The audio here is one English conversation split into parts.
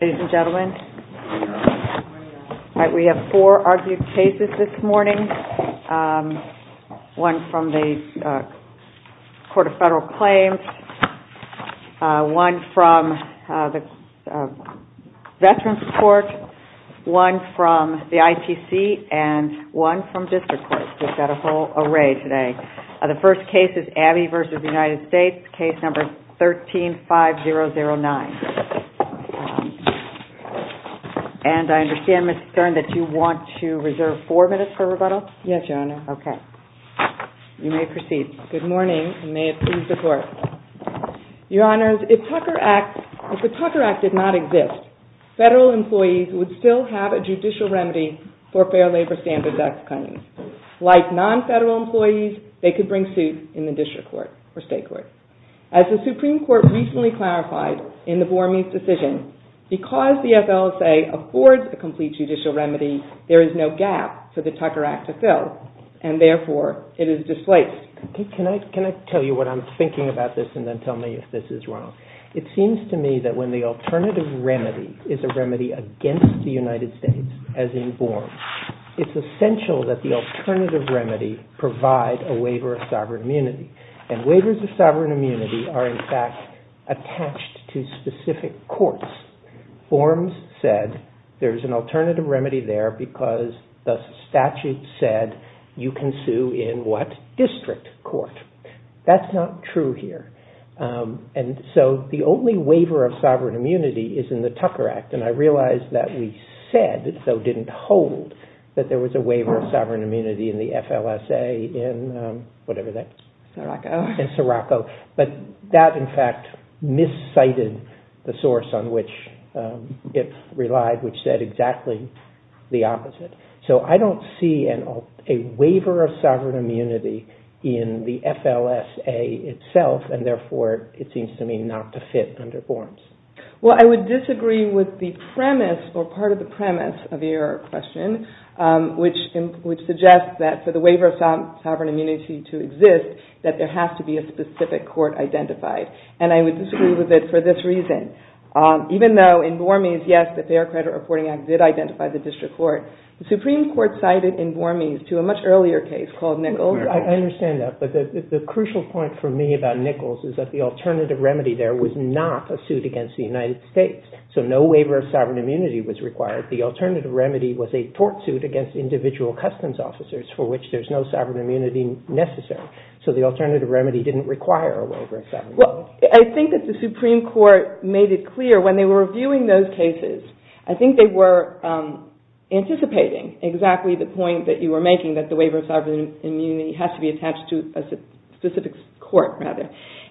ABBEY v. United States Case No. 13-5009 And I understand, Ms. Stern, that you want to reserve four minutes for rebuttal? Yes, Your Honor. Okay. You may proceed. Good morning, and may it please the Court. Your Honors, if the Tucker Act did not exist, federal employees would still have a judicial remedy for Fair Labor Standards Act claims. Like non-federal employees, they could bring suits in the district court or state court. As the Supreme Court recently clarified in the Bormes decision, because the FLSA affords a complete judicial remedy, there is no gap for the Tucker Act to fill, and therefore, it is displaced. Can I tell you what I'm thinking about this and then tell me if this is wrong? It seems to me that when the alternative remedy is a remedy against the United States, as in Bormes, it's essential that the alternative remedy provide a waiver of sovereign immunity. And waivers of sovereign immunity are, in fact, attached to specific courts. Bormes said there's an alternative remedy there because the statute said you can sue in what district court. That's not true here. And so the only waiver of sovereign immunity is in the Tucker Act. And I realize that we said, though didn't hold, that there was a waiver of sovereign immunity in the FLSA in whatever that is. In Sorocco. In Sorocco. But that, in fact, miscited the source on which it relied, which said exactly the opposite. So I don't see a waiver of sovereign immunity in the FLSA itself, and therefore, it seems to me not to fit under Bormes. Well, I would disagree with the premise or part of the premise of your question, which suggests that for the waiver of sovereign immunity to exist, that there has to be a specific court identified. And I would disagree with it for this reason. Even though in Bormes, yes, the Fair Credit Reporting Act did identify the district court, the Supreme Court cited in Bormes to a much earlier case called Nichols. I understand that. But the crucial point for me about Nichols is that the alternative remedy there was not a suit against the United States. So no waiver of sovereign immunity was required. The alternative remedy was a tort suit against individual customs officers for which there's no sovereign immunity necessary. Well, I think that the Supreme Court made it clear when they were reviewing those cases. I think they were anticipating exactly the point that you were making, that the waiver of sovereign immunity has to be attached to a specific court, rather.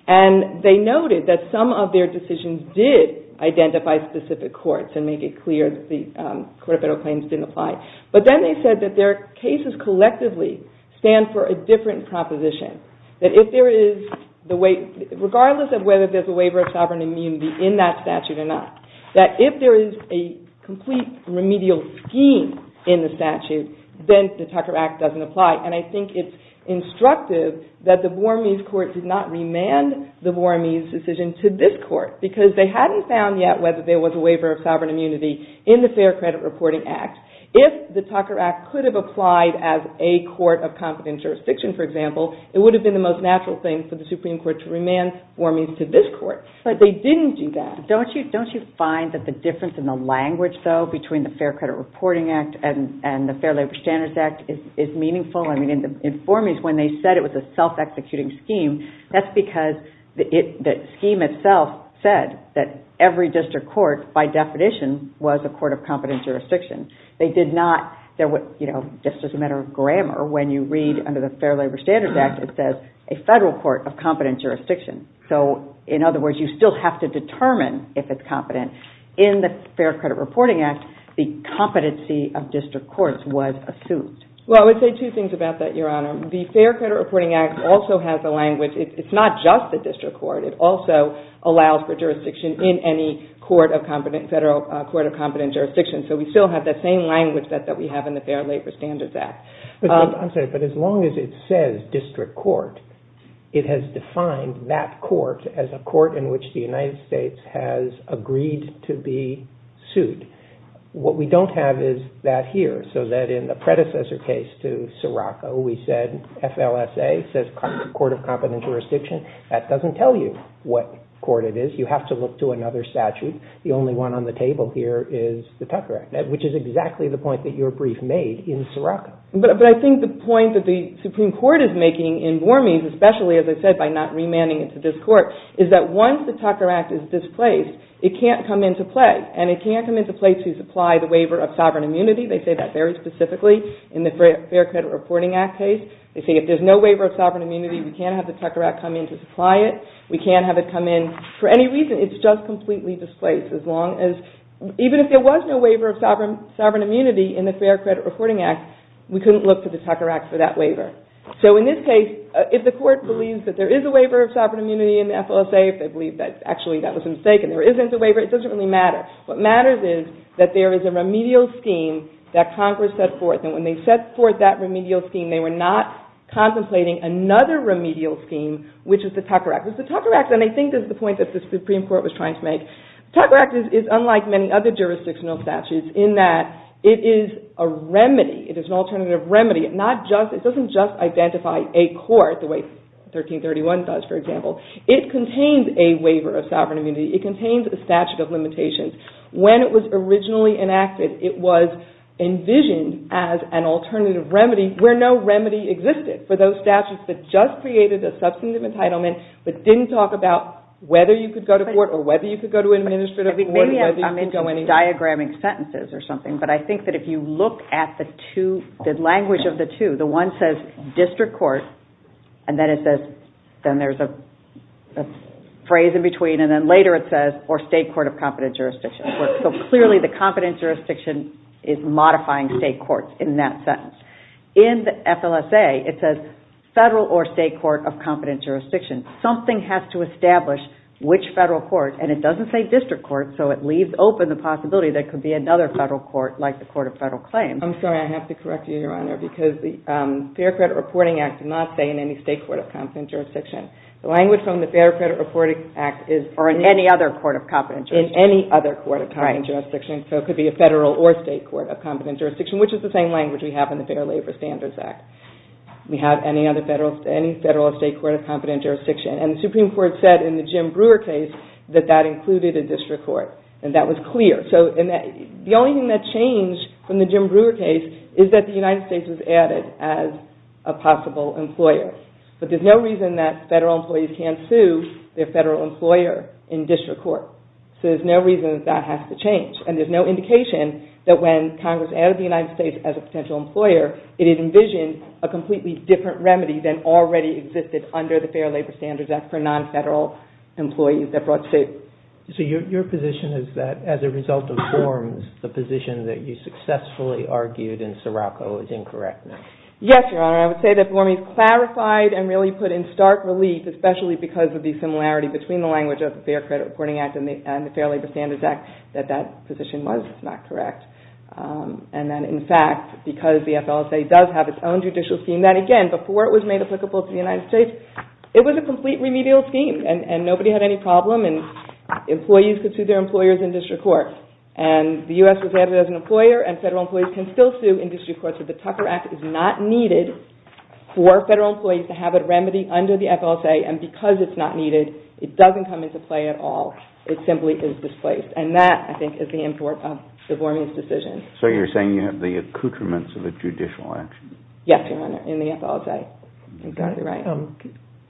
And they noted that some of their decisions did identify specific courts and make it clear that the court of federal claims didn't apply. But then they said that their cases collectively stand for a different proposition. That if there is the way, regardless of whether there's a waiver of sovereign immunity in that statute or not, that if there is a complete remedial scheme in the statute, then the Tucker Act doesn't apply. And I think it's instructive that the Bormes court did not remand the Bormes decision to this court because they hadn't found yet whether there was a waiver of sovereign immunity in the Fair Credit Reporting Act. If the Tucker Act could have applied as a court of competent jurisdiction, for example, it would have been the most natural thing for the Supreme Court to remand Bormes to this court. But they didn't do that. Don't you find that the difference in the language, though, between the Fair Credit Reporting Act and the Fair Labor Standards Act is meaningful? I mean, in Bormes, when they said it was a self-executing scheme, that's because the scheme itself said that every district court, by definition, was a court of competent jurisdiction. It's just a matter of grammar. When you read under the Fair Labor Standards Act, it says a federal court of competent jurisdiction. So, in other words, you still have to determine if it's competent. In the Fair Credit Reporting Act, the competency of district courts was assumed. Well, I would say two things about that, Your Honor. The Fair Credit Reporting Act also has a language. It's not just the district court. It also allows for jurisdiction in any court of competent jurisdiction. So, we still have that same language that we have in the Fair Labor Standards Act. I'm sorry, but as long as it says district court, it has defined that court as a court in which the United States has agreed to be sued. What we don't have is that here, so that in the predecessor case to Seraco, we said FLSA, says court of competent jurisdiction. That doesn't tell you what court it is. You have to look to another statute. And the only one on the table here is the Tucker Act, which is exactly the point that your brief made in Seraco. But I think the point that the Supreme Court is making in Bormes, especially, as I said, by not remanding it to this court, is that once the Tucker Act is displaced, it can't come into play. And it can't come into play to supply the waiver of sovereign immunity. They say that very specifically in the Fair Credit Reporting Act case. They say if there's no waiver of sovereign immunity, we can't have the Tucker Act come in to supply it. We can't have it come in for any reason. It's just completely displaced. Even if there was no waiver of sovereign immunity in the Fair Credit Reporting Act, we couldn't look to the Tucker Act for that waiver. So in this case, if the court believes that there is a waiver of sovereign immunity in FLSA, if they believe that actually that was a mistake and there isn't a waiver, it doesn't really matter. What matters is that there is a remedial scheme that Congress set forth. And when they set forth that remedial scheme, they were not contemplating another remedial scheme, which is the Tucker Act. The Tucker Act, and I think this is the point that the Supreme Court was trying to make, the Tucker Act is unlike many other jurisdictional statutes in that it is a remedy. It is an alternative remedy. It doesn't just identify a court the way 1331 does, for example. It contains a waiver of sovereign immunity. It contains a statute of limitations. When it was originally enacted, it was envisioned as an alternative remedy where no remedy existed for those statutes that just created a substantive entitlement but didn't talk about whether you could go to court or whether you could go to an administrative court or whether you could go anywhere. Maybe I'm into diagramming sentences or something, but I think that if you look at the language of the two, the one says district court, and then it says, then there's a phrase in between, and then later it says, or state court of competent jurisdiction. So clearly the competent jurisdiction is modifying state courts in that sentence. In the FLSA, it says federal or state court of competent jurisdiction. Something has to establish which federal court, and it doesn't say district court, so it leaves open the possibility there could be another federal court like the Court of Federal Claims. I'm sorry, I have to correct you, Your Honor, because the Fair Credit Reporting Act did not say in any state court of competent jurisdiction. The language from the Fair Credit Reporting Act is... Or in any other court of competent jurisdiction. In any other court of competent jurisdiction. So it could be a federal or state court of competent jurisdiction, which is the same language we have in the Fair Labor Standards Act. We have any other federal or state court of competent jurisdiction. And the Supreme Court said in the Jim Brewer case that that included a district court. And that was clear. The only thing that changed from the Jim Brewer case is that the United States was added as a possible employer. But there's no reason that federal employees can't sue their federal employer in district court. So there's no reason that that has to change. And there's no indication that when Congress added the United States as a potential employer, it envisioned a completely different remedy than already existed under the Fair Labor Standards Act for non-federal employees that brought state... So your position is that as a result of forms, the position that you successfully argued in Seraco is incorrect now? Yes, Your Honor. I would say that for me it clarified and really put in stark relief, especially because of the similarity between the language of the Fair Credit Reporting Act and the Fair Labor Standards Act, that that position was not correct. And then in fact, because the FLSA does have its own judicial scheme, that again, before it was made applicable to the United States, it was a complete remedial scheme and nobody had any problem and employees could sue their employers in district court. And the U.S. was added as an employer and federal employees can still sue in district court. So the Tucker Act is not needed for federal employees to have a remedy under the FLSA. And because it's not needed, it doesn't come into play at all. In fact, it simply is displaced. And that, I think, is the import of the Vormuth decision. So you're saying you have the accoutrements of a judicial action? Yes, Your Honor, in the FLSA. Exactly right.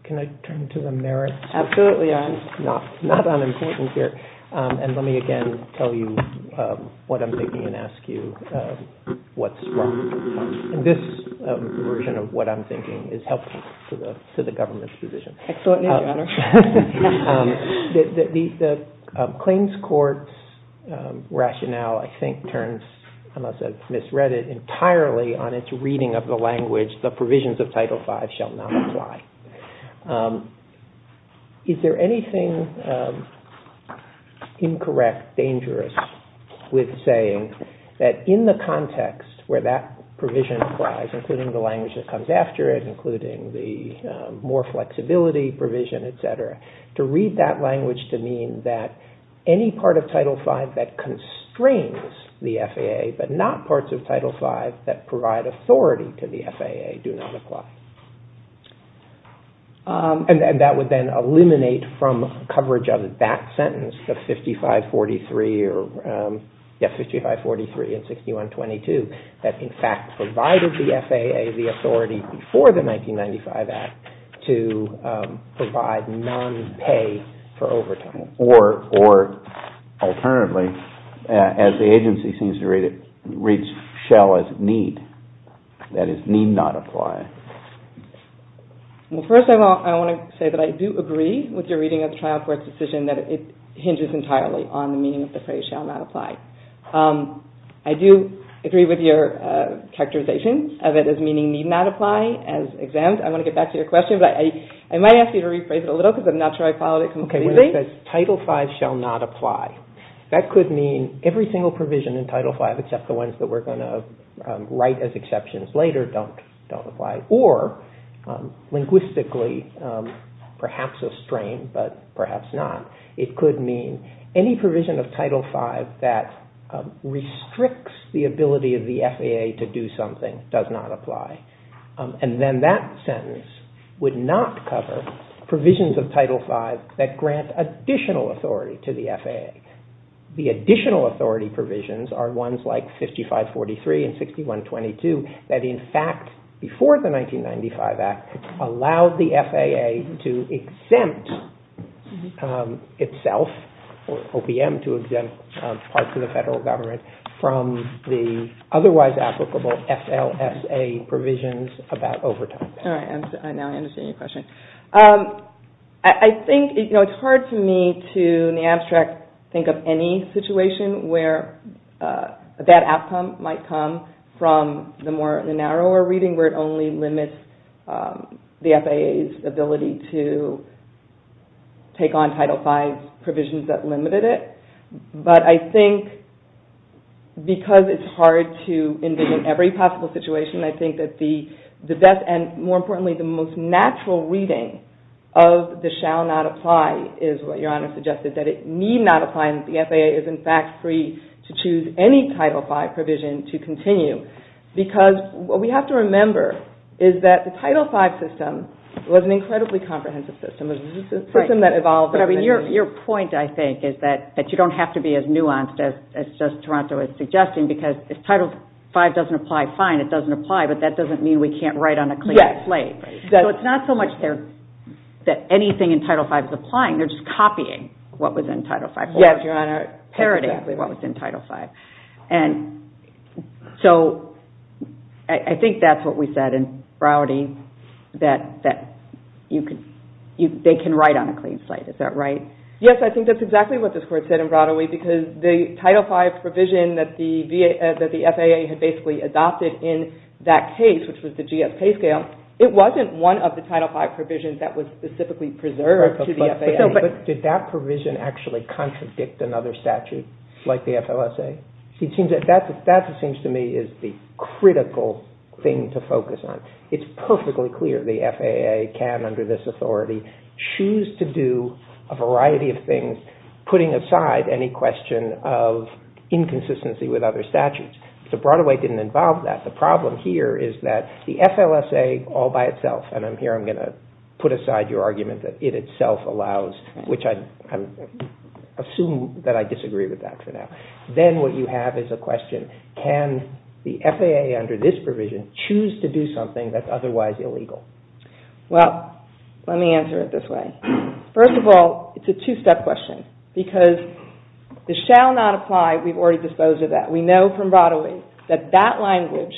Can I turn to the merits? Absolutely, Your Honor. Not unimportant here. And let me again tell you what I'm thinking and ask you what's wrong. And this version of what I'm thinking is helpful to the government's position. Excellent, Your Honor. The claims court's rationale, I think, turns, unless I've misread it, entirely on its reading of the language, the provisions of Title V shall not apply. Is there anything incorrect, dangerous with saying that in the context where that provision applies, including the language that comes after it, including the more flexibility provision, et cetera, to read that language to mean that any part of Title V that constrains the FAA, but not parts of Title V that provide authority to the FAA, do not apply. And that would then eliminate from coverage of that sentence, the 5543 and 6122, that, in fact, provided the FAA the authority before the 1995 Act to provide non-pay for overtime. Or, alternatively, as the agency seems to read it, reads shall as need. That is, need not apply. Well, first I want to say that I do agree with your reading of the trial court's decision that it hinges entirely on the meaning of the phrase shall not apply. I do agree with your characterization of it as meaning need not apply as exempt. I want to get back to your question, but I might ask you to rephrase it a little, because I'm not sure I followed it completely. Title V shall not apply. That could mean every single provision in Title V, except the ones that we're going to write as exceptions later, don't apply. Or, linguistically, perhaps a strain, but perhaps not. It could mean any provision of Title V that restricts the ability of the FAA to do something does not apply. And then that sentence would not cover provisions of Title V that grant additional authority to the FAA. The additional authority provisions are ones like 5543 and 6122 that, in fact, before the 1995 Act, allowed the FAA to exempt itself, or OPM, to exempt parts of the federal government from the otherwise applicable FLSA provisions about overtime. All right, now I understand your question. I think, you know, it's hard for me to, in the abstract, think of any situation where that outcome might come from the narrower reading, where it only limits the FAA's ability to take on Title V provisions that limited it. But I think because it's hard to envision every possible situation, I think that the best and, more importantly, the most natural reading of the shall not apply is what Your Honor suggested, that it need not apply, and that the FAA is, in fact, free to choose any Title V provision to continue. Because what we have to remember is that the Title V system was an incredibly comprehensive system. It was a system that evolved over many years. But I mean, your point, I think, is that you don't have to be as nuanced as Toronto is suggesting, because if Title V doesn't apply, fine, it doesn't apply, but that doesn't mean we can't write on a clean slate. So it's not so much that anything in Title V is applying. They're just copying what was in Title V. Yes, Your Honor. Parody what was in Title V. And so I think that's what we said in Browarding, that they can write on a clean slate. Is that right? Yes, I think that's exactly what this Court said in Browarding, because the Title V provision that the FAA had basically adopted in that case, which was the GSP scale, it wasn't one of the Title V provisions that was specifically preserved to the FAA. But did that provision actually contradict another statute like the FLSA? That, it seems to me, is the critical thing to focus on. It's perfectly clear the FAA can, under this authority, choose to do a variety of things putting aside any question of inconsistency with other statutes. So Broadway didn't involve that. The problem here is that the FLSA all by itself, and here I'm going to put aside your argument that it itself allows, which I assume that I disagree with that for now. Then what you have is a question, can the FAA under this provision choose to do something that's otherwise illegal? Well, let me answer it this way. First of all, it's a two-step question, because the shall not apply, we've already disposed of that. We know from Broadway that that language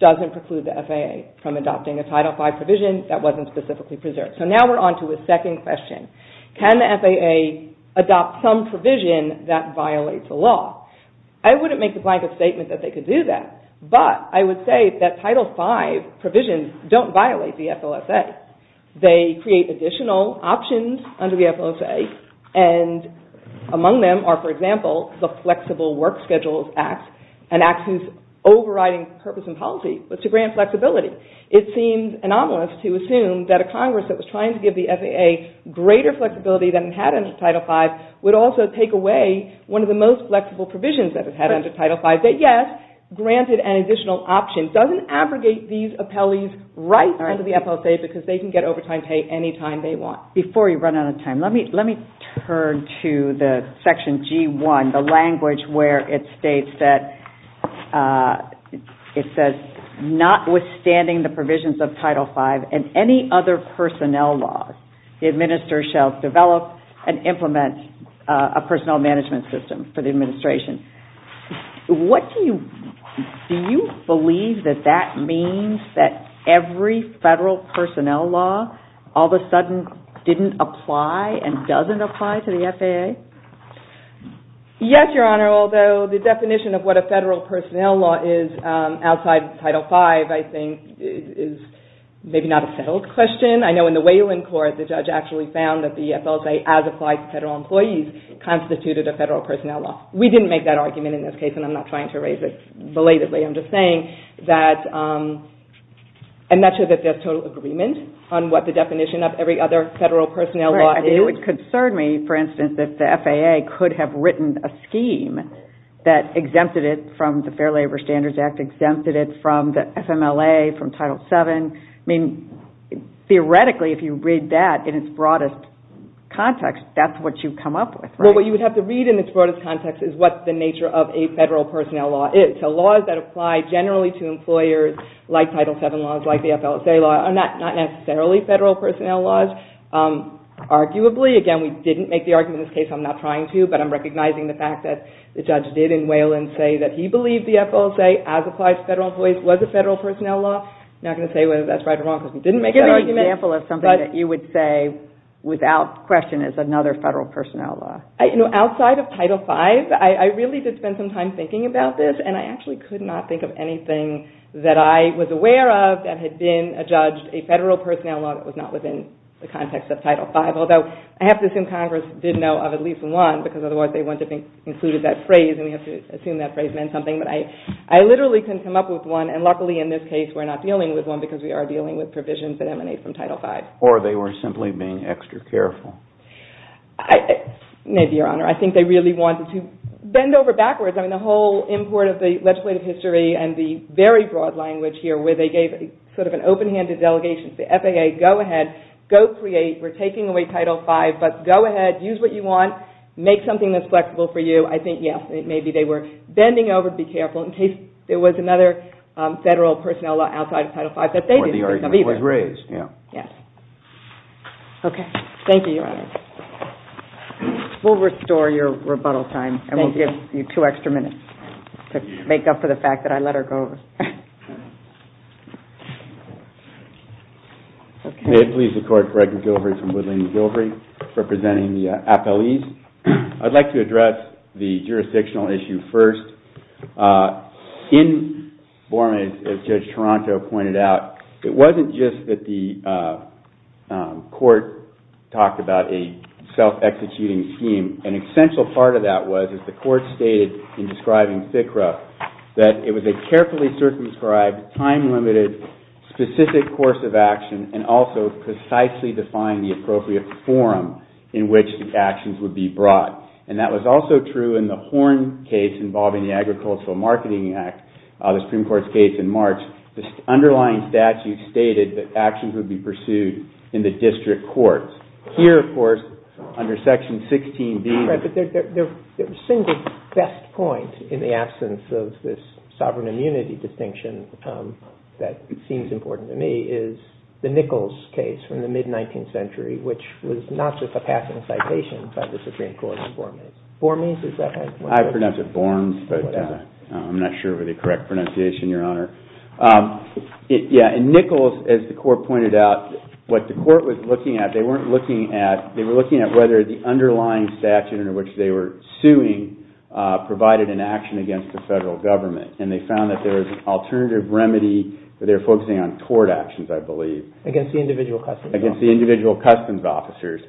doesn't preclude the FAA from adopting a Title V provision that wasn't specifically preserved. So now we're on to a second question. Can the FAA adopt some provision that violates the law? I wouldn't make the blanket statement that they could do that, but I would say that Title V provisions don't violate the FLSA. They create additional options under the FLSA, and among them are, for example, the Flexible Work Schedules Act, an act whose overriding purpose and policy was to grant flexibility. It seems anomalous to assume that a Congress that was trying to give the FAA greater flexibility than it had under Title V would also take away one of the most flexible provisions that it had under Title V, that yes, granted an additional option. It doesn't abrogate these appellees right under the FLSA, because they can get overtime pay any time they want. Before we run out of time, let me turn to the Section G-1, the language where it states that notwithstanding the provisions of Title V and any other personnel laws, the administrator shall develop and implement a personnel management system for the administration. Do you believe that that means that every federal personnel law, all of a sudden, didn't apply and doesn't apply to the FAA? Yes, Your Honor, although the definition of what a federal personnel law is outside of Title V, I think, is maybe not a settled question. I know in the Wayland Court, the judge actually found that the FLSA as applied to federal employees constituted a federal personnel law. We didn't make that argument in this case, and I'm not trying to erase it belatedly. I'm just saying that I'm not sure that there's total agreement on what the definition of every other federal personnel law is. Right. It would concern me, for instance, that the FAA could have written a scheme that exempted it from the Fair Labor Standards Act, exempted it from the FMLA, from Title VII. I mean, theoretically, if you read that in its broadest context, that's what you've come up with, right? Well, what you would have to read in its broadest context is what the nature of a federal personnel law is. So laws that apply generally to employers like Title VII laws, like the FLSA law, are not necessarily federal personnel laws, arguably. Again, we didn't make the argument in this case. I'm not trying to, but I'm recognizing the fact that the judge did in Wayland say that he believed the FLSA as applied to federal employees was a federal personnel law. I'm not going to say whether that's right or wrong, because we didn't make any arguments. That's an example of something that you would say without question is another federal personnel law. Outside of Title V, I really did spend some time thinking about this, and I actually could not think of anything that I was aware of that had been adjudged a federal personnel law that was not within the context of Title V, although I have to assume Congress did know of at least one, because otherwise they wouldn't have included that phrase, and we have to assume that phrase meant something. But I literally couldn't come up with one, and luckily in this case we're not dealing with one because we are dealing with provisions that emanate from Title V. Or they were simply being extra careful. Maybe, Your Honor. I think they really wanted to bend over backwards. I mean, the whole import of the legislative history and the very broad language here, where they gave sort of an open-handed delegation to the FAA, go ahead, go create, we're taking away Title V, but go ahead, use what you want, make something that's flexible for you. I think, yes, maybe they were bending over to be careful in case there was another federal personnel law outside of Title V that they didn't think of either. Or the argument was raised. Yes. Okay. Thank you, Your Honor. We'll restore your rebuttal time, and we'll give you two extra minutes to make up for the fact that I let her go. May it please the Court, Gregor Gilbrey from Woodland & Gilbrey representing the appellees. I'd like to address the jurisdictional issue first. In Borman, as Judge Toronto pointed out, it wasn't just that the court talked about a self-executing scheme. An essential part of that was, as the court stated in describing FCRA, that it was a carefully circumscribed, time-limited, specific course of action, and also precisely defined the appropriate forum in which the actions would be brought. And that was also true in the Horn case involving the Agricultural Marketing Act, the Supreme Court's case in March. The underlying statute stated that actions would be pursued in the district courts. Here, of course, under Section 16b. The single best point, in the absence of this sovereign immunity distinction that seems important to me, is the Nichols case from the mid-19th century, which was not just a passing citation by the Supreme Court in Borman. Borman, is that how you pronounce it? I pronounce it Borms, but I'm not sure of the correct pronunciation, Your Honor. Yeah, in Nichols, as the court pointed out, what the court was looking at, they were looking at whether the underlying statute under which they were suing provided an action against the federal government, and they found that there was an alternative remedy where they were focusing on court actions, I believe. Against the individual customs officers. Against the individual customs officers.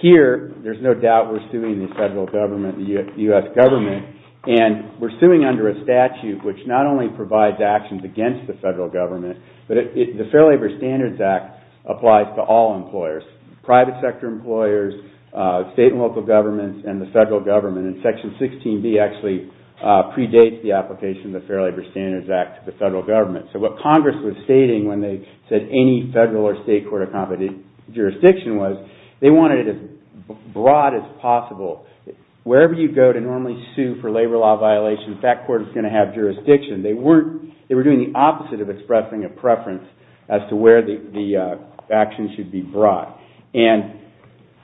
Here, there's no doubt we're suing the federal government, the U.S. government, and we're suing under a statute which not only provides actions against the federal government, but the Fair Labor Standards Act applies to all employers. Private sector employers, state and local governments, and the federal government, and Section 16B actually predates the application of the Fair Labor Standards Act to the federal government. So what Congress was stating when they said any federal or state court of competition jurisdiction was, they wanted it as broad as possible. Wherever you go to normally sue for labor law violations, that court is going to have jurisdiction. They were doing the opposite of expressing a preference as to where the action should be brought. And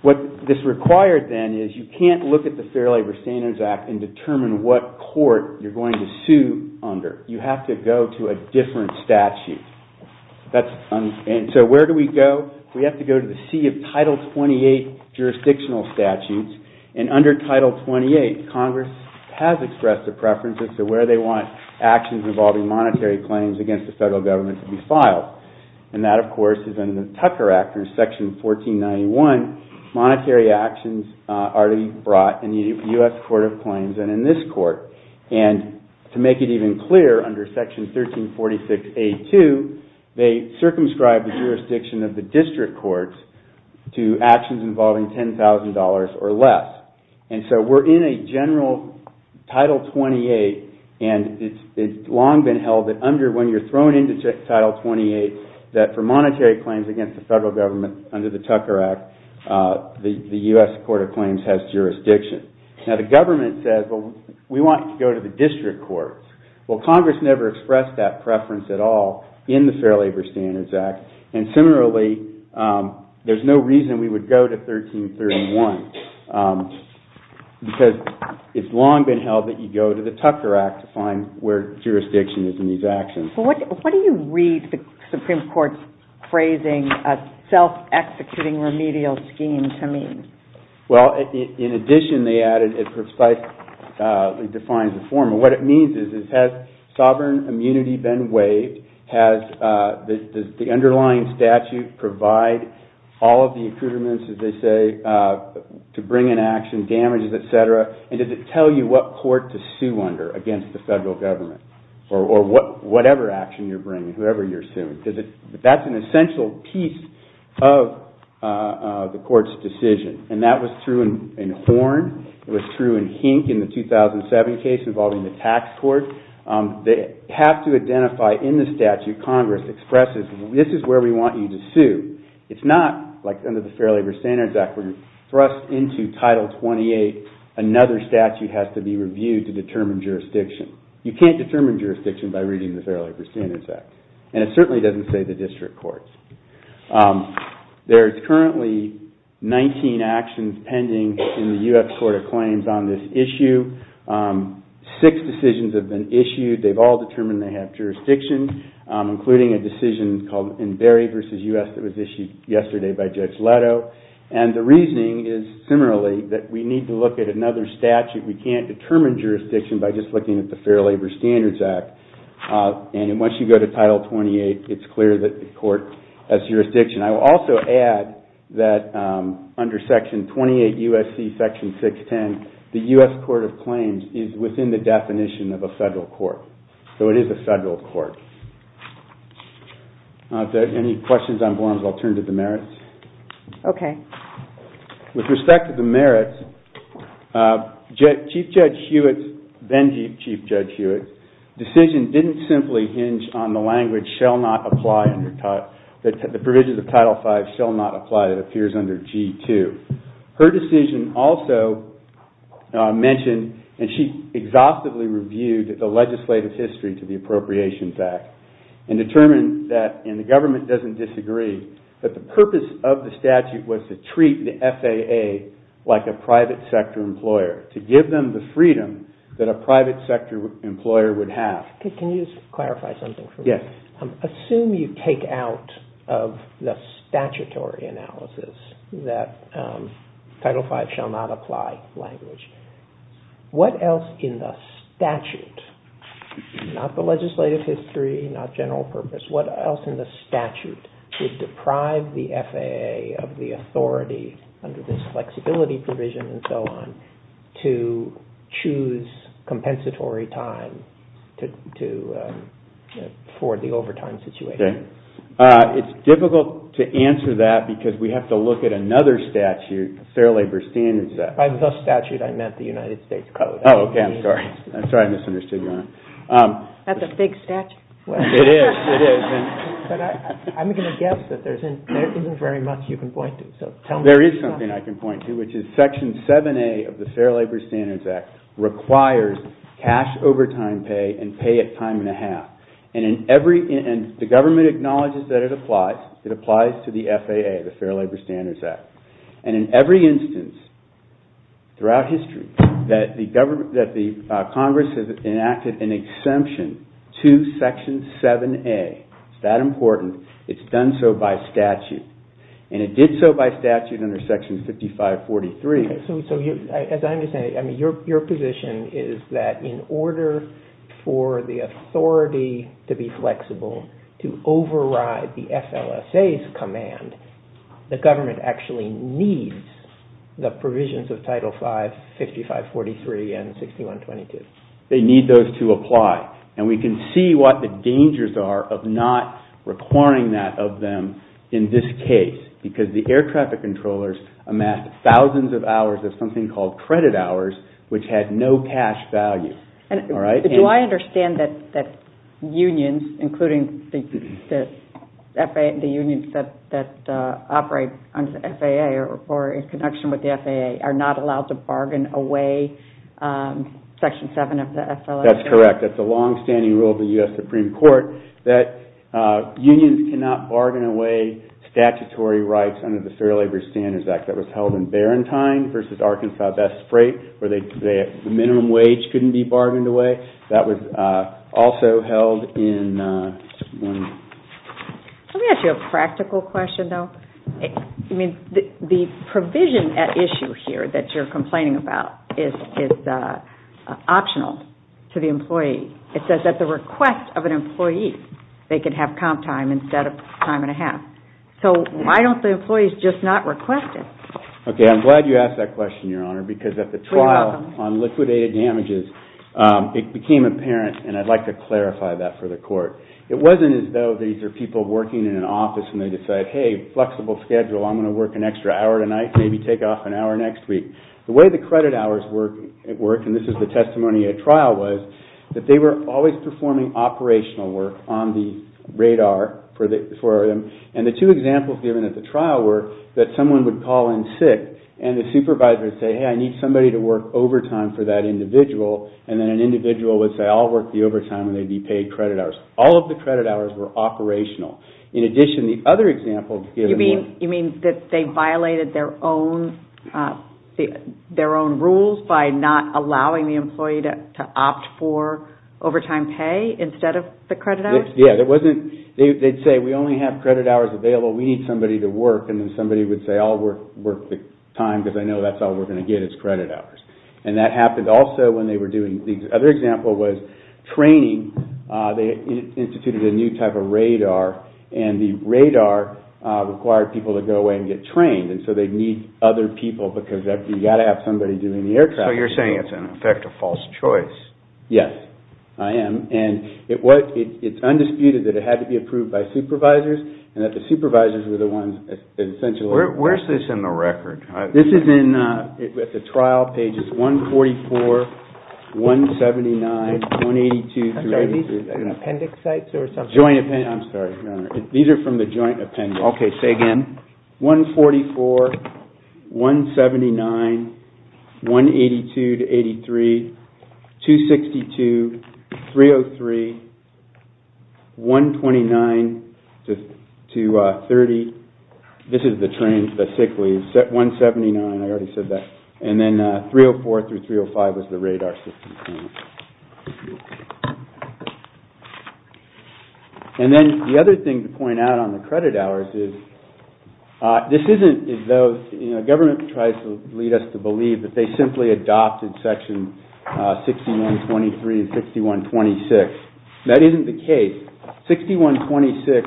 what this required then is you can't look at the Fair Labor Standards Act and determine what court you're going to sue under. You have to go to a different statute. And so where do we go? We have to go to the sea of Title 28 jurisdictional statutes, and under Title 28, Congress has expressed a preference as to where they want actions involving monetary claims against the federal government to be filed. And that, of course, is under the Tucker Act. Under Section 1491, monetary actions are to be brought in the U.S. Court of Claims and in this court. And to make it even clearer, under Section 1346A2, they circumscribe the jurisdiction of the district courts to actions involving $10,000 or less. And so we're in a general Title 28, and it's long been held that under when you're thrown into Title 28 that for monetary claims against the federal government under the Tucker Act, the U.S. Court of Claims has jurisdiction. Now, the government says, well, we want to go to the district courts. Well, Congress never expressed that preference at all in the Fair Labor Standards Act. And similarly, there's no reason we would go to 1331 because it's long been held that you go to the Tucker Act to find where jurisdiction is in these actions. But what do you read the Supreme Court's phrasing as self-executing remedial scheme to mean? Well, in addition, they added it precisely defines the form. And what it means is, has sovereign immunity been waived? Does the underlying statute provide all of the improvements, as they say, to bring in action, damages, etc.? And does it tell you what court to sue under against the federal government? Or whatever action you're bringing, whoever you're suing. That's an essential piece of the court's decision. And that was true in Horn. It was true in Hink in the 2007 case involving the tax court. They have to identify in the statute Congress expresses, this is where we want you to sue. It's not like under the Fair Labor Standards Act where you're thrust into Title 28. Another statute has to be reviewed to determine jurisdiction. You can't determine jurisdiction by reading the Fair Labor Standards Act. And it certainly doesn't say the district courts. There's currently 19 actions pending in the U.S. Court of Claims on this issue. Six decisions have been issued. They've all determined they have jurisdiction, including a decision called in Berry v. U.S. that was issued yesterday by Judge Leto. And the reasoning is similarly that we need to look at another statute. We can't determine jurisdiction by just looking at the Fair Labor Standards Act. And once you go to Title 28, it's clear that the court has jurisdiction. I will also add that under Section 28 U.S.C. Section 610, the U.S. Court of Claims is within the definition of a federal court. So it is a federal court. If there are any questions on Gorham's, I'll turn to the merits. Okay. With respect to the merits, Chief Judge Hewitt's decision didn't simply hinge on the language that the provisions of Title V shall not apply that appears under G-2. Her decision also mentioned, and she exhaustively reviewed, the legislative history to the Appropriations Act and determined that, and the government doesn't disagree, that the purpose of the statute was to treat the FAA like a private sector employer, to give them the freedom that a private sector employer would have. Can you just clarify something for me? Yes. Assume you take out of the statutory analysis that Title V shall not apply language. What else in the statute, not the legislative history, not general purpose, what else in the statute would deprive the FAA of the authority under this flexibility provision and so on to choose compensatory time for the overtime situation? Okay. It's difficult to answer that because we have to look at another statute, Fair Labor Standards Act. By the statute, I meant the United States Code. Oh, okay. I'm sorry. I'm sorry I misunderstood you, Your Honor. That's a big statute. It is. It is. But I'm going to guess that there isn't very much you can point to. There is something I can point to, which is Section 7A of the Fair Labor Standards Act requires cash overtime pay and pay it time and a half. And the government acknowledges that it applies. It applies to the FAA, the Fair Labor Standards Act. And in every instance throughout history that the Congress has enacted an exemption to Section 7A. It's that important. It's done so by statute. And it did so by statute under Section 5543. So as I understand it, your position is that in order for the authority to be flexible to override the FLSA's command, the government actually needs the provisions of Title V, 5543, and 6122. They need those to apply. And we can see what the dangers are of not requiring that of them in this case because the air traffic controllers amassed thousands of hours of something called credit hours which had no cash value. Do I understand that unions, including the unions that operate under the FAA or in connection with the FAA, are not allowed to bargain away Section 7 of the FLSA? That's correct. That's a long-standing rule of the U.S. Supreme Court that unions cannot bargain away statutory rights under the Fair Labor Standards Act. That was held in Barentine v. Arkansas Best Freight where the minimum wage couldn't be bargained away. That was also held in... Let me ask you a practical question, though. The provision at issue here that you're complaining about is optional to the employee. It says at the request of an employee they can have comp time instead of time and a half. So why don't the employees just not request it? Okay, I'm glad you asked that question, Your Honor, because at the trial on liquidated damages it became apparent, and I'd like to clarify that for the Court. It wasn't as though these are people working in an office and they decide, hey, flexible schedule, I'm going to work an extra hour tonight, maybe take off an hour next week. The way the credit hours worked, and this is the testimony at trial, was that they were always performing operational work on the radar for them, and the two examples given at the trial were that someone would call in sick and the supervisor would say, hey, I need somebody to work overtime for that individual, and then an individual would say, I'll work the overtime and they'd be paid credit hours. All of the credit hours were operational. In addition, the other example given was... ...their own rules by not allowing the employee to opt for overtime pay instead of the credit hours? Yeah, there wasn't... They'd say, we only have credit hours available, we need somebody to work, and then somebody would say, I'll work the time because I know that's all we're going to get is credit hours, and that happened also when they were doing... The other example was training. They instituted a new type of radar, and the radar required people to go away and get trained, and so they'd need other people, because you've got to have somebody doing the aircraft. So you're saying it's, in effect, a false choice. Yes, I am. And it's undisputed that it had to be approved by supervisors, and that the supervisors were the ones that essentially... Where's this in the record? This is in... At the trial, pages 144, 179, 182... I'm sorry, these are appendix sites or something? Joint append... I'm sorry, Your Honor. These are from the joint appendix. Okay, say again. 144, 179, 182 to 83, 262, 303, 129 to 30. This is the train specifically. 179, I already said that. And then 304 through 305 was the radar system. And then the other thing to point out on the credit hours is, this isn't... The government tries to lead us to believe that they simply adopted Section 6123 and 6126. That isn't the case. 6126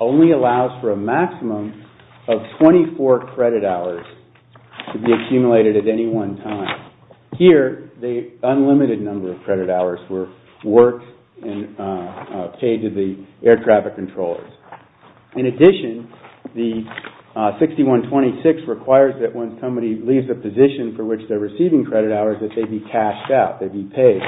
only allows for a maximum of 24 credit hours to be accumulated at any one time. Here, the unlimited number of credit hours were worked and paid to the air traffic controllers. In addition, the 6126 requires that when somebody leaves a position for which they're receiving credit hours, that they be cashed out, they be paid.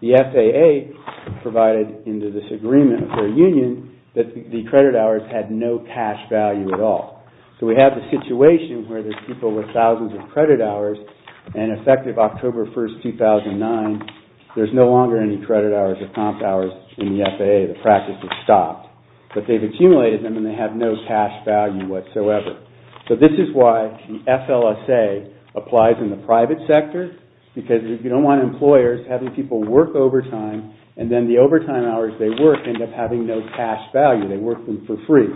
The FAA provided in the disagreement with their union that the credit hours had no cash value at all. So we have the situation where there's people with thousands of credit hours and effective October 1, 2009, there's no longer any credit hours or comp hours in the FAA. The practice has stopped. But they've accumulated them and they have no cash value whatsoever. So this is why the FLSA applies in the private sector because if you don't want employers having people work overtime, and then the overtime hours they work end up having no cash value. They work them for free.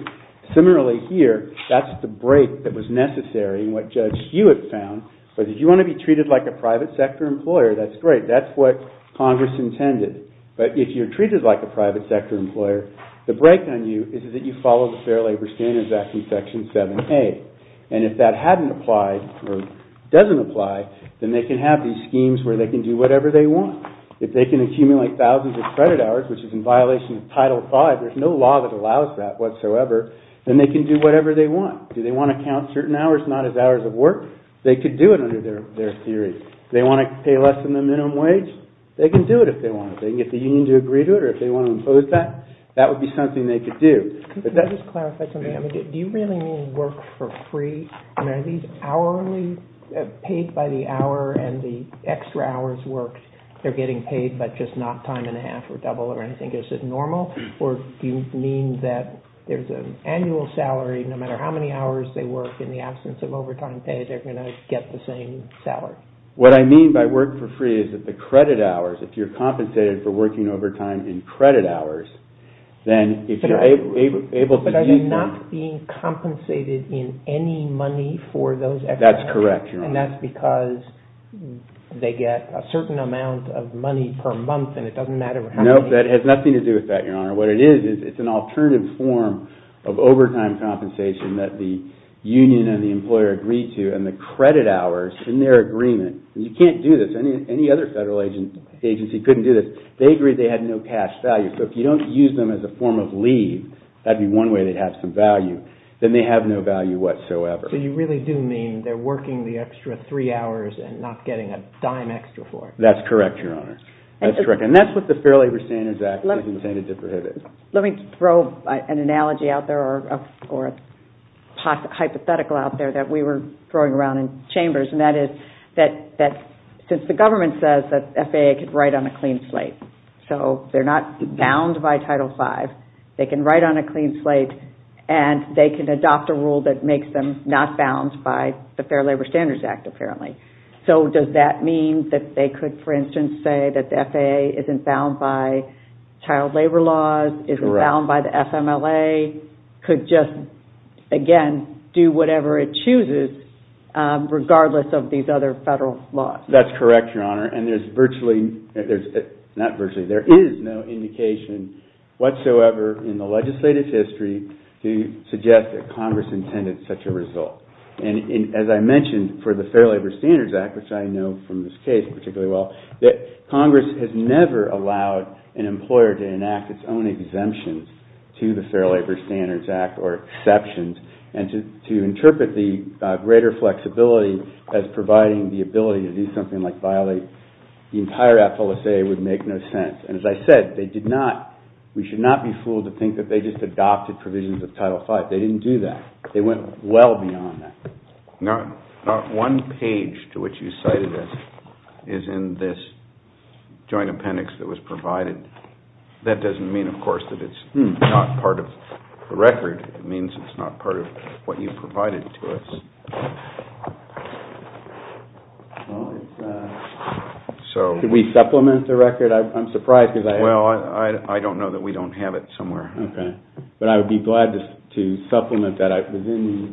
Similarly here, that's the break that was necessary and what Judge Hewitt found. But if you want to be treated like a private sector employer, that's great. That's what Congress intended. But if you're treated like a private sector employer, the break on you is that you follow the Fair Labor Standards Act in Section 7a. And if that hadn't applied or doesn't apply, then they can have these schemes where they can do whatever they want. If they can accumulate thousands of credit hours, which is in violation of Title V, there's no law that allows that whatsoever, then they can do whatever they want. Do they want to count certain hours not as hours of work? They could do it under their theory. Do they want to pay less than the minimum wage? They can do it if they want. They can get the union to agree to it, or if they want to impose that, that would be something they could do. Can I just clarify something? Do you really mean work for free? I mean, are these hourly, paid by the hour and the extra hours worked, they're getting paid, but just not time and a half or double or anything? Is it normal? Or do you mean that there's an annual salary, no matter how many hours they work in the absence of overtime pay, they're going to get the same salary? What I mean by work for free is that the credit hours, if you're compensated for working overtime in credit hours, then if you're able to do that. But are they not being compensated in any money for those extra hours? That's correct, Your Honor. And that's because they get a certain amount of money per month, and it doesn't matter how many? No, that has nothing to do with that, Your Honor. What it is, is it's an alternative form of overtime compensation that the union and the employer agree to, and the credit hours in their agreement, and you can't do this. Any other federal agency couldn't do this. They agreed they had no cash value. So if you don't use them as a form of leave, that'd be one way they'd have some value. Then they have no value whatsoever. So you really do mean they're working the extra three hours and not getting a dime extra for it? That's correct, Your Honor. That's correct. And that's what the Fair Labor Standards Act has intended to prohibit. Let me throw an analogy out there, or a hypothetical out there, that we were throwing around in chambers, and that is that since the government says that FAA could write on a clean slate, so they're not bound by Title V, they can write on a clean slate, and they can adopt a rule that makes them not bound by the Fair Labor Standards Act, apparently. So does that mean that they could, for instance, say that the FAA isn't bound by child labor laws, isn't bound by the FMLA, could just, again, do whatever it chooses, regardless of these other federal laws? That's correct, Your Honor. And there's virtually, not virtually, there is no indication whatsoever in the legislative history to suggest that Congress intended such a result. And as I mentioned, for the Fair Labor Standards Act, which I know from this case particularly well, that Congress has never allowed an employer to enact its own exemptions to the Fair Labor Standards Act, or exceptions, and to interpret the greater flexibility as providing the ability to do something like violate the entire FLSA would make no sense. And as I said, they did not, we should not be fooled to think that they just adopted provisions of Title V. They didn't do that. They went well beyond that. Now, one page to which you cited this is in this joint appendix that was provided. That doesn't mean, of course, that it's not part of the record. It means it's not part of what you provided to us. Should we supplement the record? I'm surprised because I have it. Well, I don't know that we don't have it somewhere. Okay. But I would be glad to supplement that within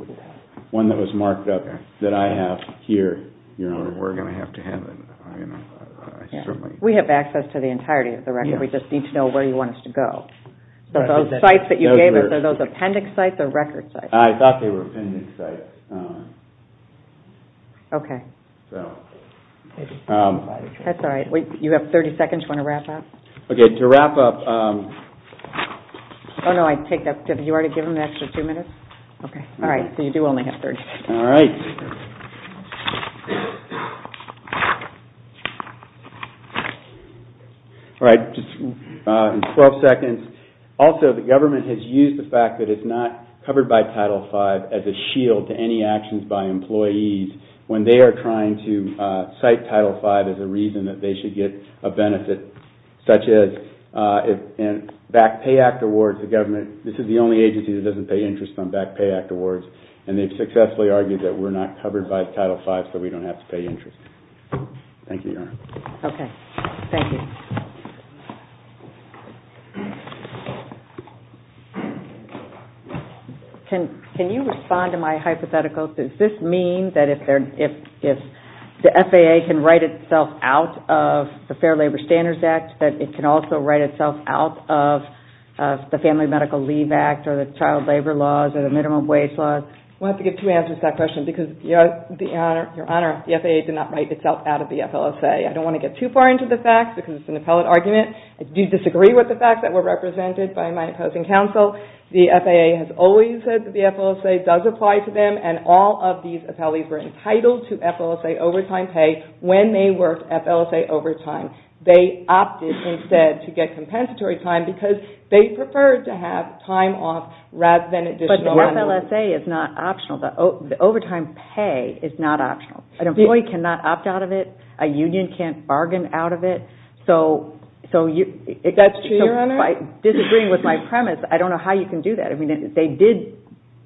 one that was marked up that I have here, Your Honor. We're going to have to have it. We have access to the entirety of the record. We just need to know where you want us to go. So those sites that you gave us, are those appendix sites or record sites? I thought they were appendix sites. Okay. That's all right. You have 30 seconds. Do you want to wrap up? Okay. To wrap up... Oh, no. I take that. Did you already give them the extra two minutes? Okay. All right. So you do only have 30 seconds. All right. All right. Just in 12 seconds. Also, the government has used the fact that it's not covered by Title V as a shield to any actions by employees when they are trying to cite Title V as a reason that they should get a benefit, such as in Back Pay Act awards, the government, this is the only agency that doesn't pay interest on Back Pay Act awards, that we're not covered by Title V so we don't have to pay interest. Thank you, Your Honor. Okay. Thank you. Can you respond to my hypothetical? Does this mean that if the FAA can write itself out of the Fair Labor Standards Act that it can also write itself out of the Family Medical Leave Act or the child labor laws or the minimum wage laws? We'll have to give two answers to that question because, Your Honor, the FAA did not write itself out of the FLSA. I don't want to get too far into the facts because it's an appellate argument. I do disagree with the facts that were represented by my opposing counsel. The FAA has always said that the FLSA does apply to them and all of these appellees were entitled to FLSA overtime pay when they worked FLSA overtime. They opted instead to get compensatory time because they preferred to have time off rather than additional money. But the FLSA is not optional. The overtime pay is not optional. An employee cannot opt out of it. A union can't bargain out of it. That's true, Your Honor. Disagreeing with my premise, I don't know how you can do that.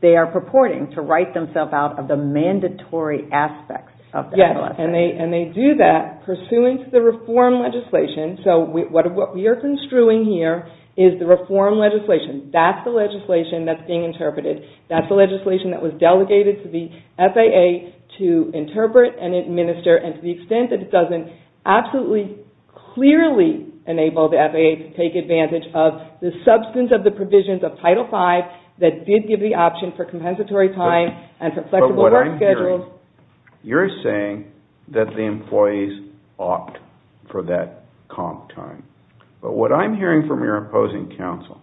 They are purporting to write themselves out of the mandatory aspects of the FLSA. And they do that pursuant to the reform legislation. So what we are construing here is the reform legislation. That's the legislation that's being interpreted. That's the legislation that was delegated to the FAA to interpret and administer and to the extent that it doesn't absolutely clearly enable the FAA to take advantage of the substance of the provisions of Title V that did give the option for compensatory time and for flexible work schedules. But what I'm hearing, you're saying that the employees opt for that comp time. But what I'm hearing from your opposing counsel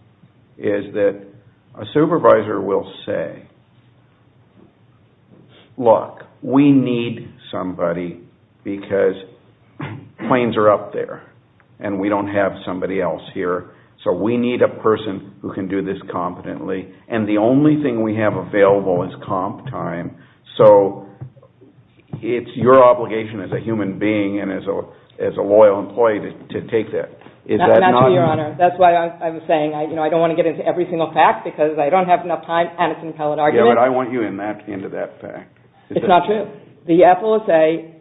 is that a supervisor will say, look, we need somebody because planes are up there and we don't have somebody else here. So we need a person who can do this competently. And the only thing we have available is comp time. So it's your obligation as a human being and as a loyal employee to take that. Not true, Your Honor. That's why I'm saying I don't want to get into every single fact because I don't have enough time Yeah, but I want you into that fact. It's not true. The FLSA,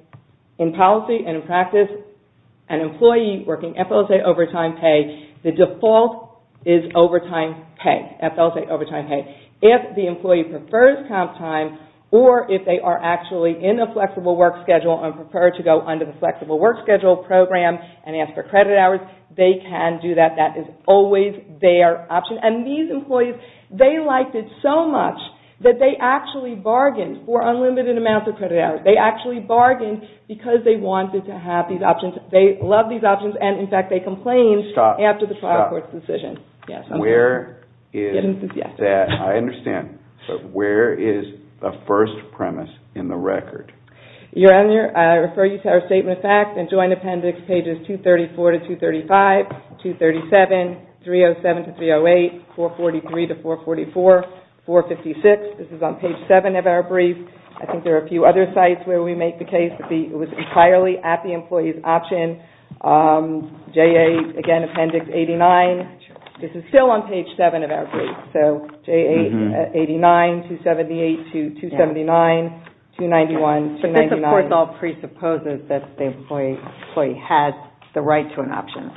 in policy and in practice, an employee working FLSA overtime pay, the default is overtime pay, FLSA overtime pay. If the employee prefers comp time or if they are actually in a flexible work schedule and prefer to go under the flexible work schedule program and ask for credit hours, they can do that. That is always their option. And these employees, they liked it so much that they actually bargained for unlimited amounts of credit hours. They actually bargained because they wanted to have these options. They love these options and, in fact, they complained after the trial court's decision. Where is that? I understand. But where is the first premise in the record? Your Honor, I refer you to our Statement of Facts and Joint Appendix pages 234 to 235, 237, 307 to 308, 443 to 444, 456. This is on page 7 of our brief. I think there are a few other sites where we make the case that it was entirely at the employee's option. J8, again, Appendix 89. This is still on page 7 of our brief. So J8, 89, 278 to 279, 291, 299. But this, of course, all presupposes that the employee has the right to an option.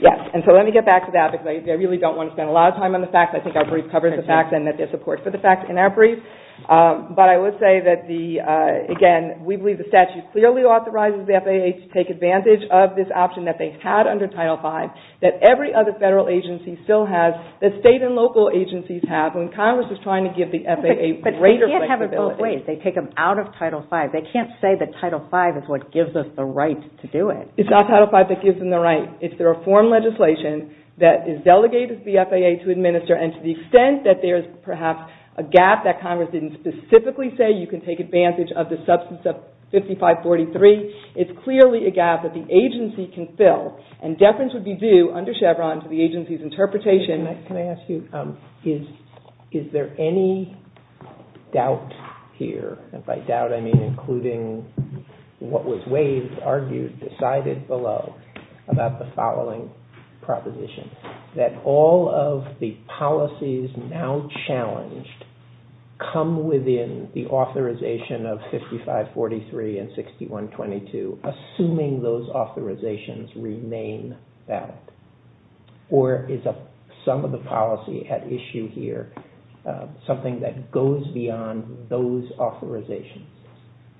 Yes, and so let me get back to that because I really don't want to spend a lot of time on the facts. I think our brief covers the facts and that there's support for the facts in our brief. But I would say that, again, we believe the statute clearly authorizes the FAA to take advantage of this option that they had under Title V that every other federal agency still has, that state and local agencies have when Congress is trying to give the FAA greater flexibility. But they can't have it both ways. They take them out of Title V. They can't say that Title V is what gives us the right to do it. It's not Title V that gives them the right. It's the reform legislation that is delegated to the FAA to administer. And to the extent that there's perhaps a gap that Congress didn't specifically say you can take advantage of the substance of 5543, it's clearly a gap that the agency can fill. And deference would be due, under Chevron, to the agency's interpretation. Can I ask you, is there any doubt here? And by doubt, I mean including what was waived, argued, decided below about the following proposition, that all of the policies now challenged come within the authorization of 5543 and 6122, assuming those authorizations remain valid? Or is some of the policy at issue here something that goes beyond those authorizations?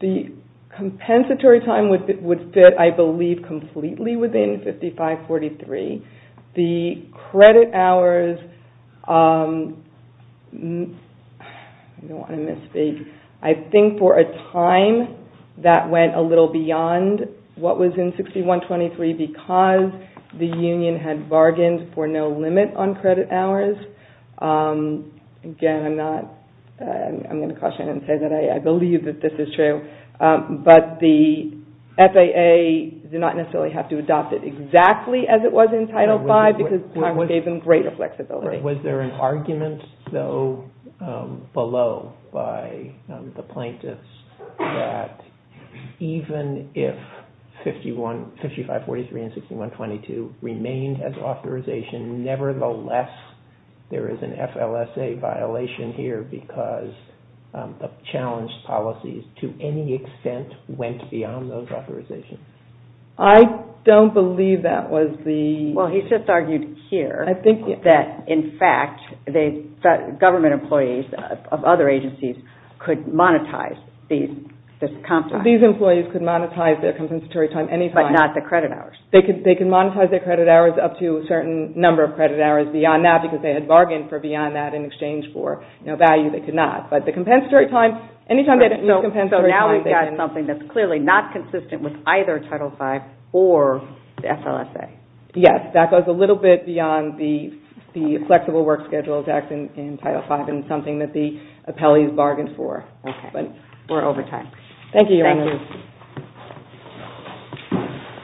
The compensatory time would fit, I believe, completely within 5543. The credit hours, I don't want to misspeak, I think for a time that went a little beyond what was in 6123 because the union had bargained for no limit on credit hours. Again, I'm going to caution and say that I believe that this is true. But the FAA did not necessarily have to adopt it exactly as it was in Title V because Congress gave them greater flexibility. Was there an argument, though, below by the plaintiffs that even if 5543 and 6122 remained as authorization, nevertheless, there is an FLSA violation here because the challenged policies, to any extent, went beyond those authorizations? I don't believe that was the... Well, he just argued here that, in fact, government employees of other agencies could monetize this compensation. These employees could monetize their compensatory time anytime. But not the credit hours. They could monetize their credit hours up to a certain number of credit hours beyond that because they had bargained for beyond that in exchange for value they could not. But the compensatory time, anytime they didn't use compensatory time... So now we've got something that's clearly not consistent with either Title V or the FLSA. Yes. That goes a little bit beyond the flexible work schedule that's in Title V and something that the appellees bargained for. Okay. We're over time. Thank you, Your Honor. Thank you.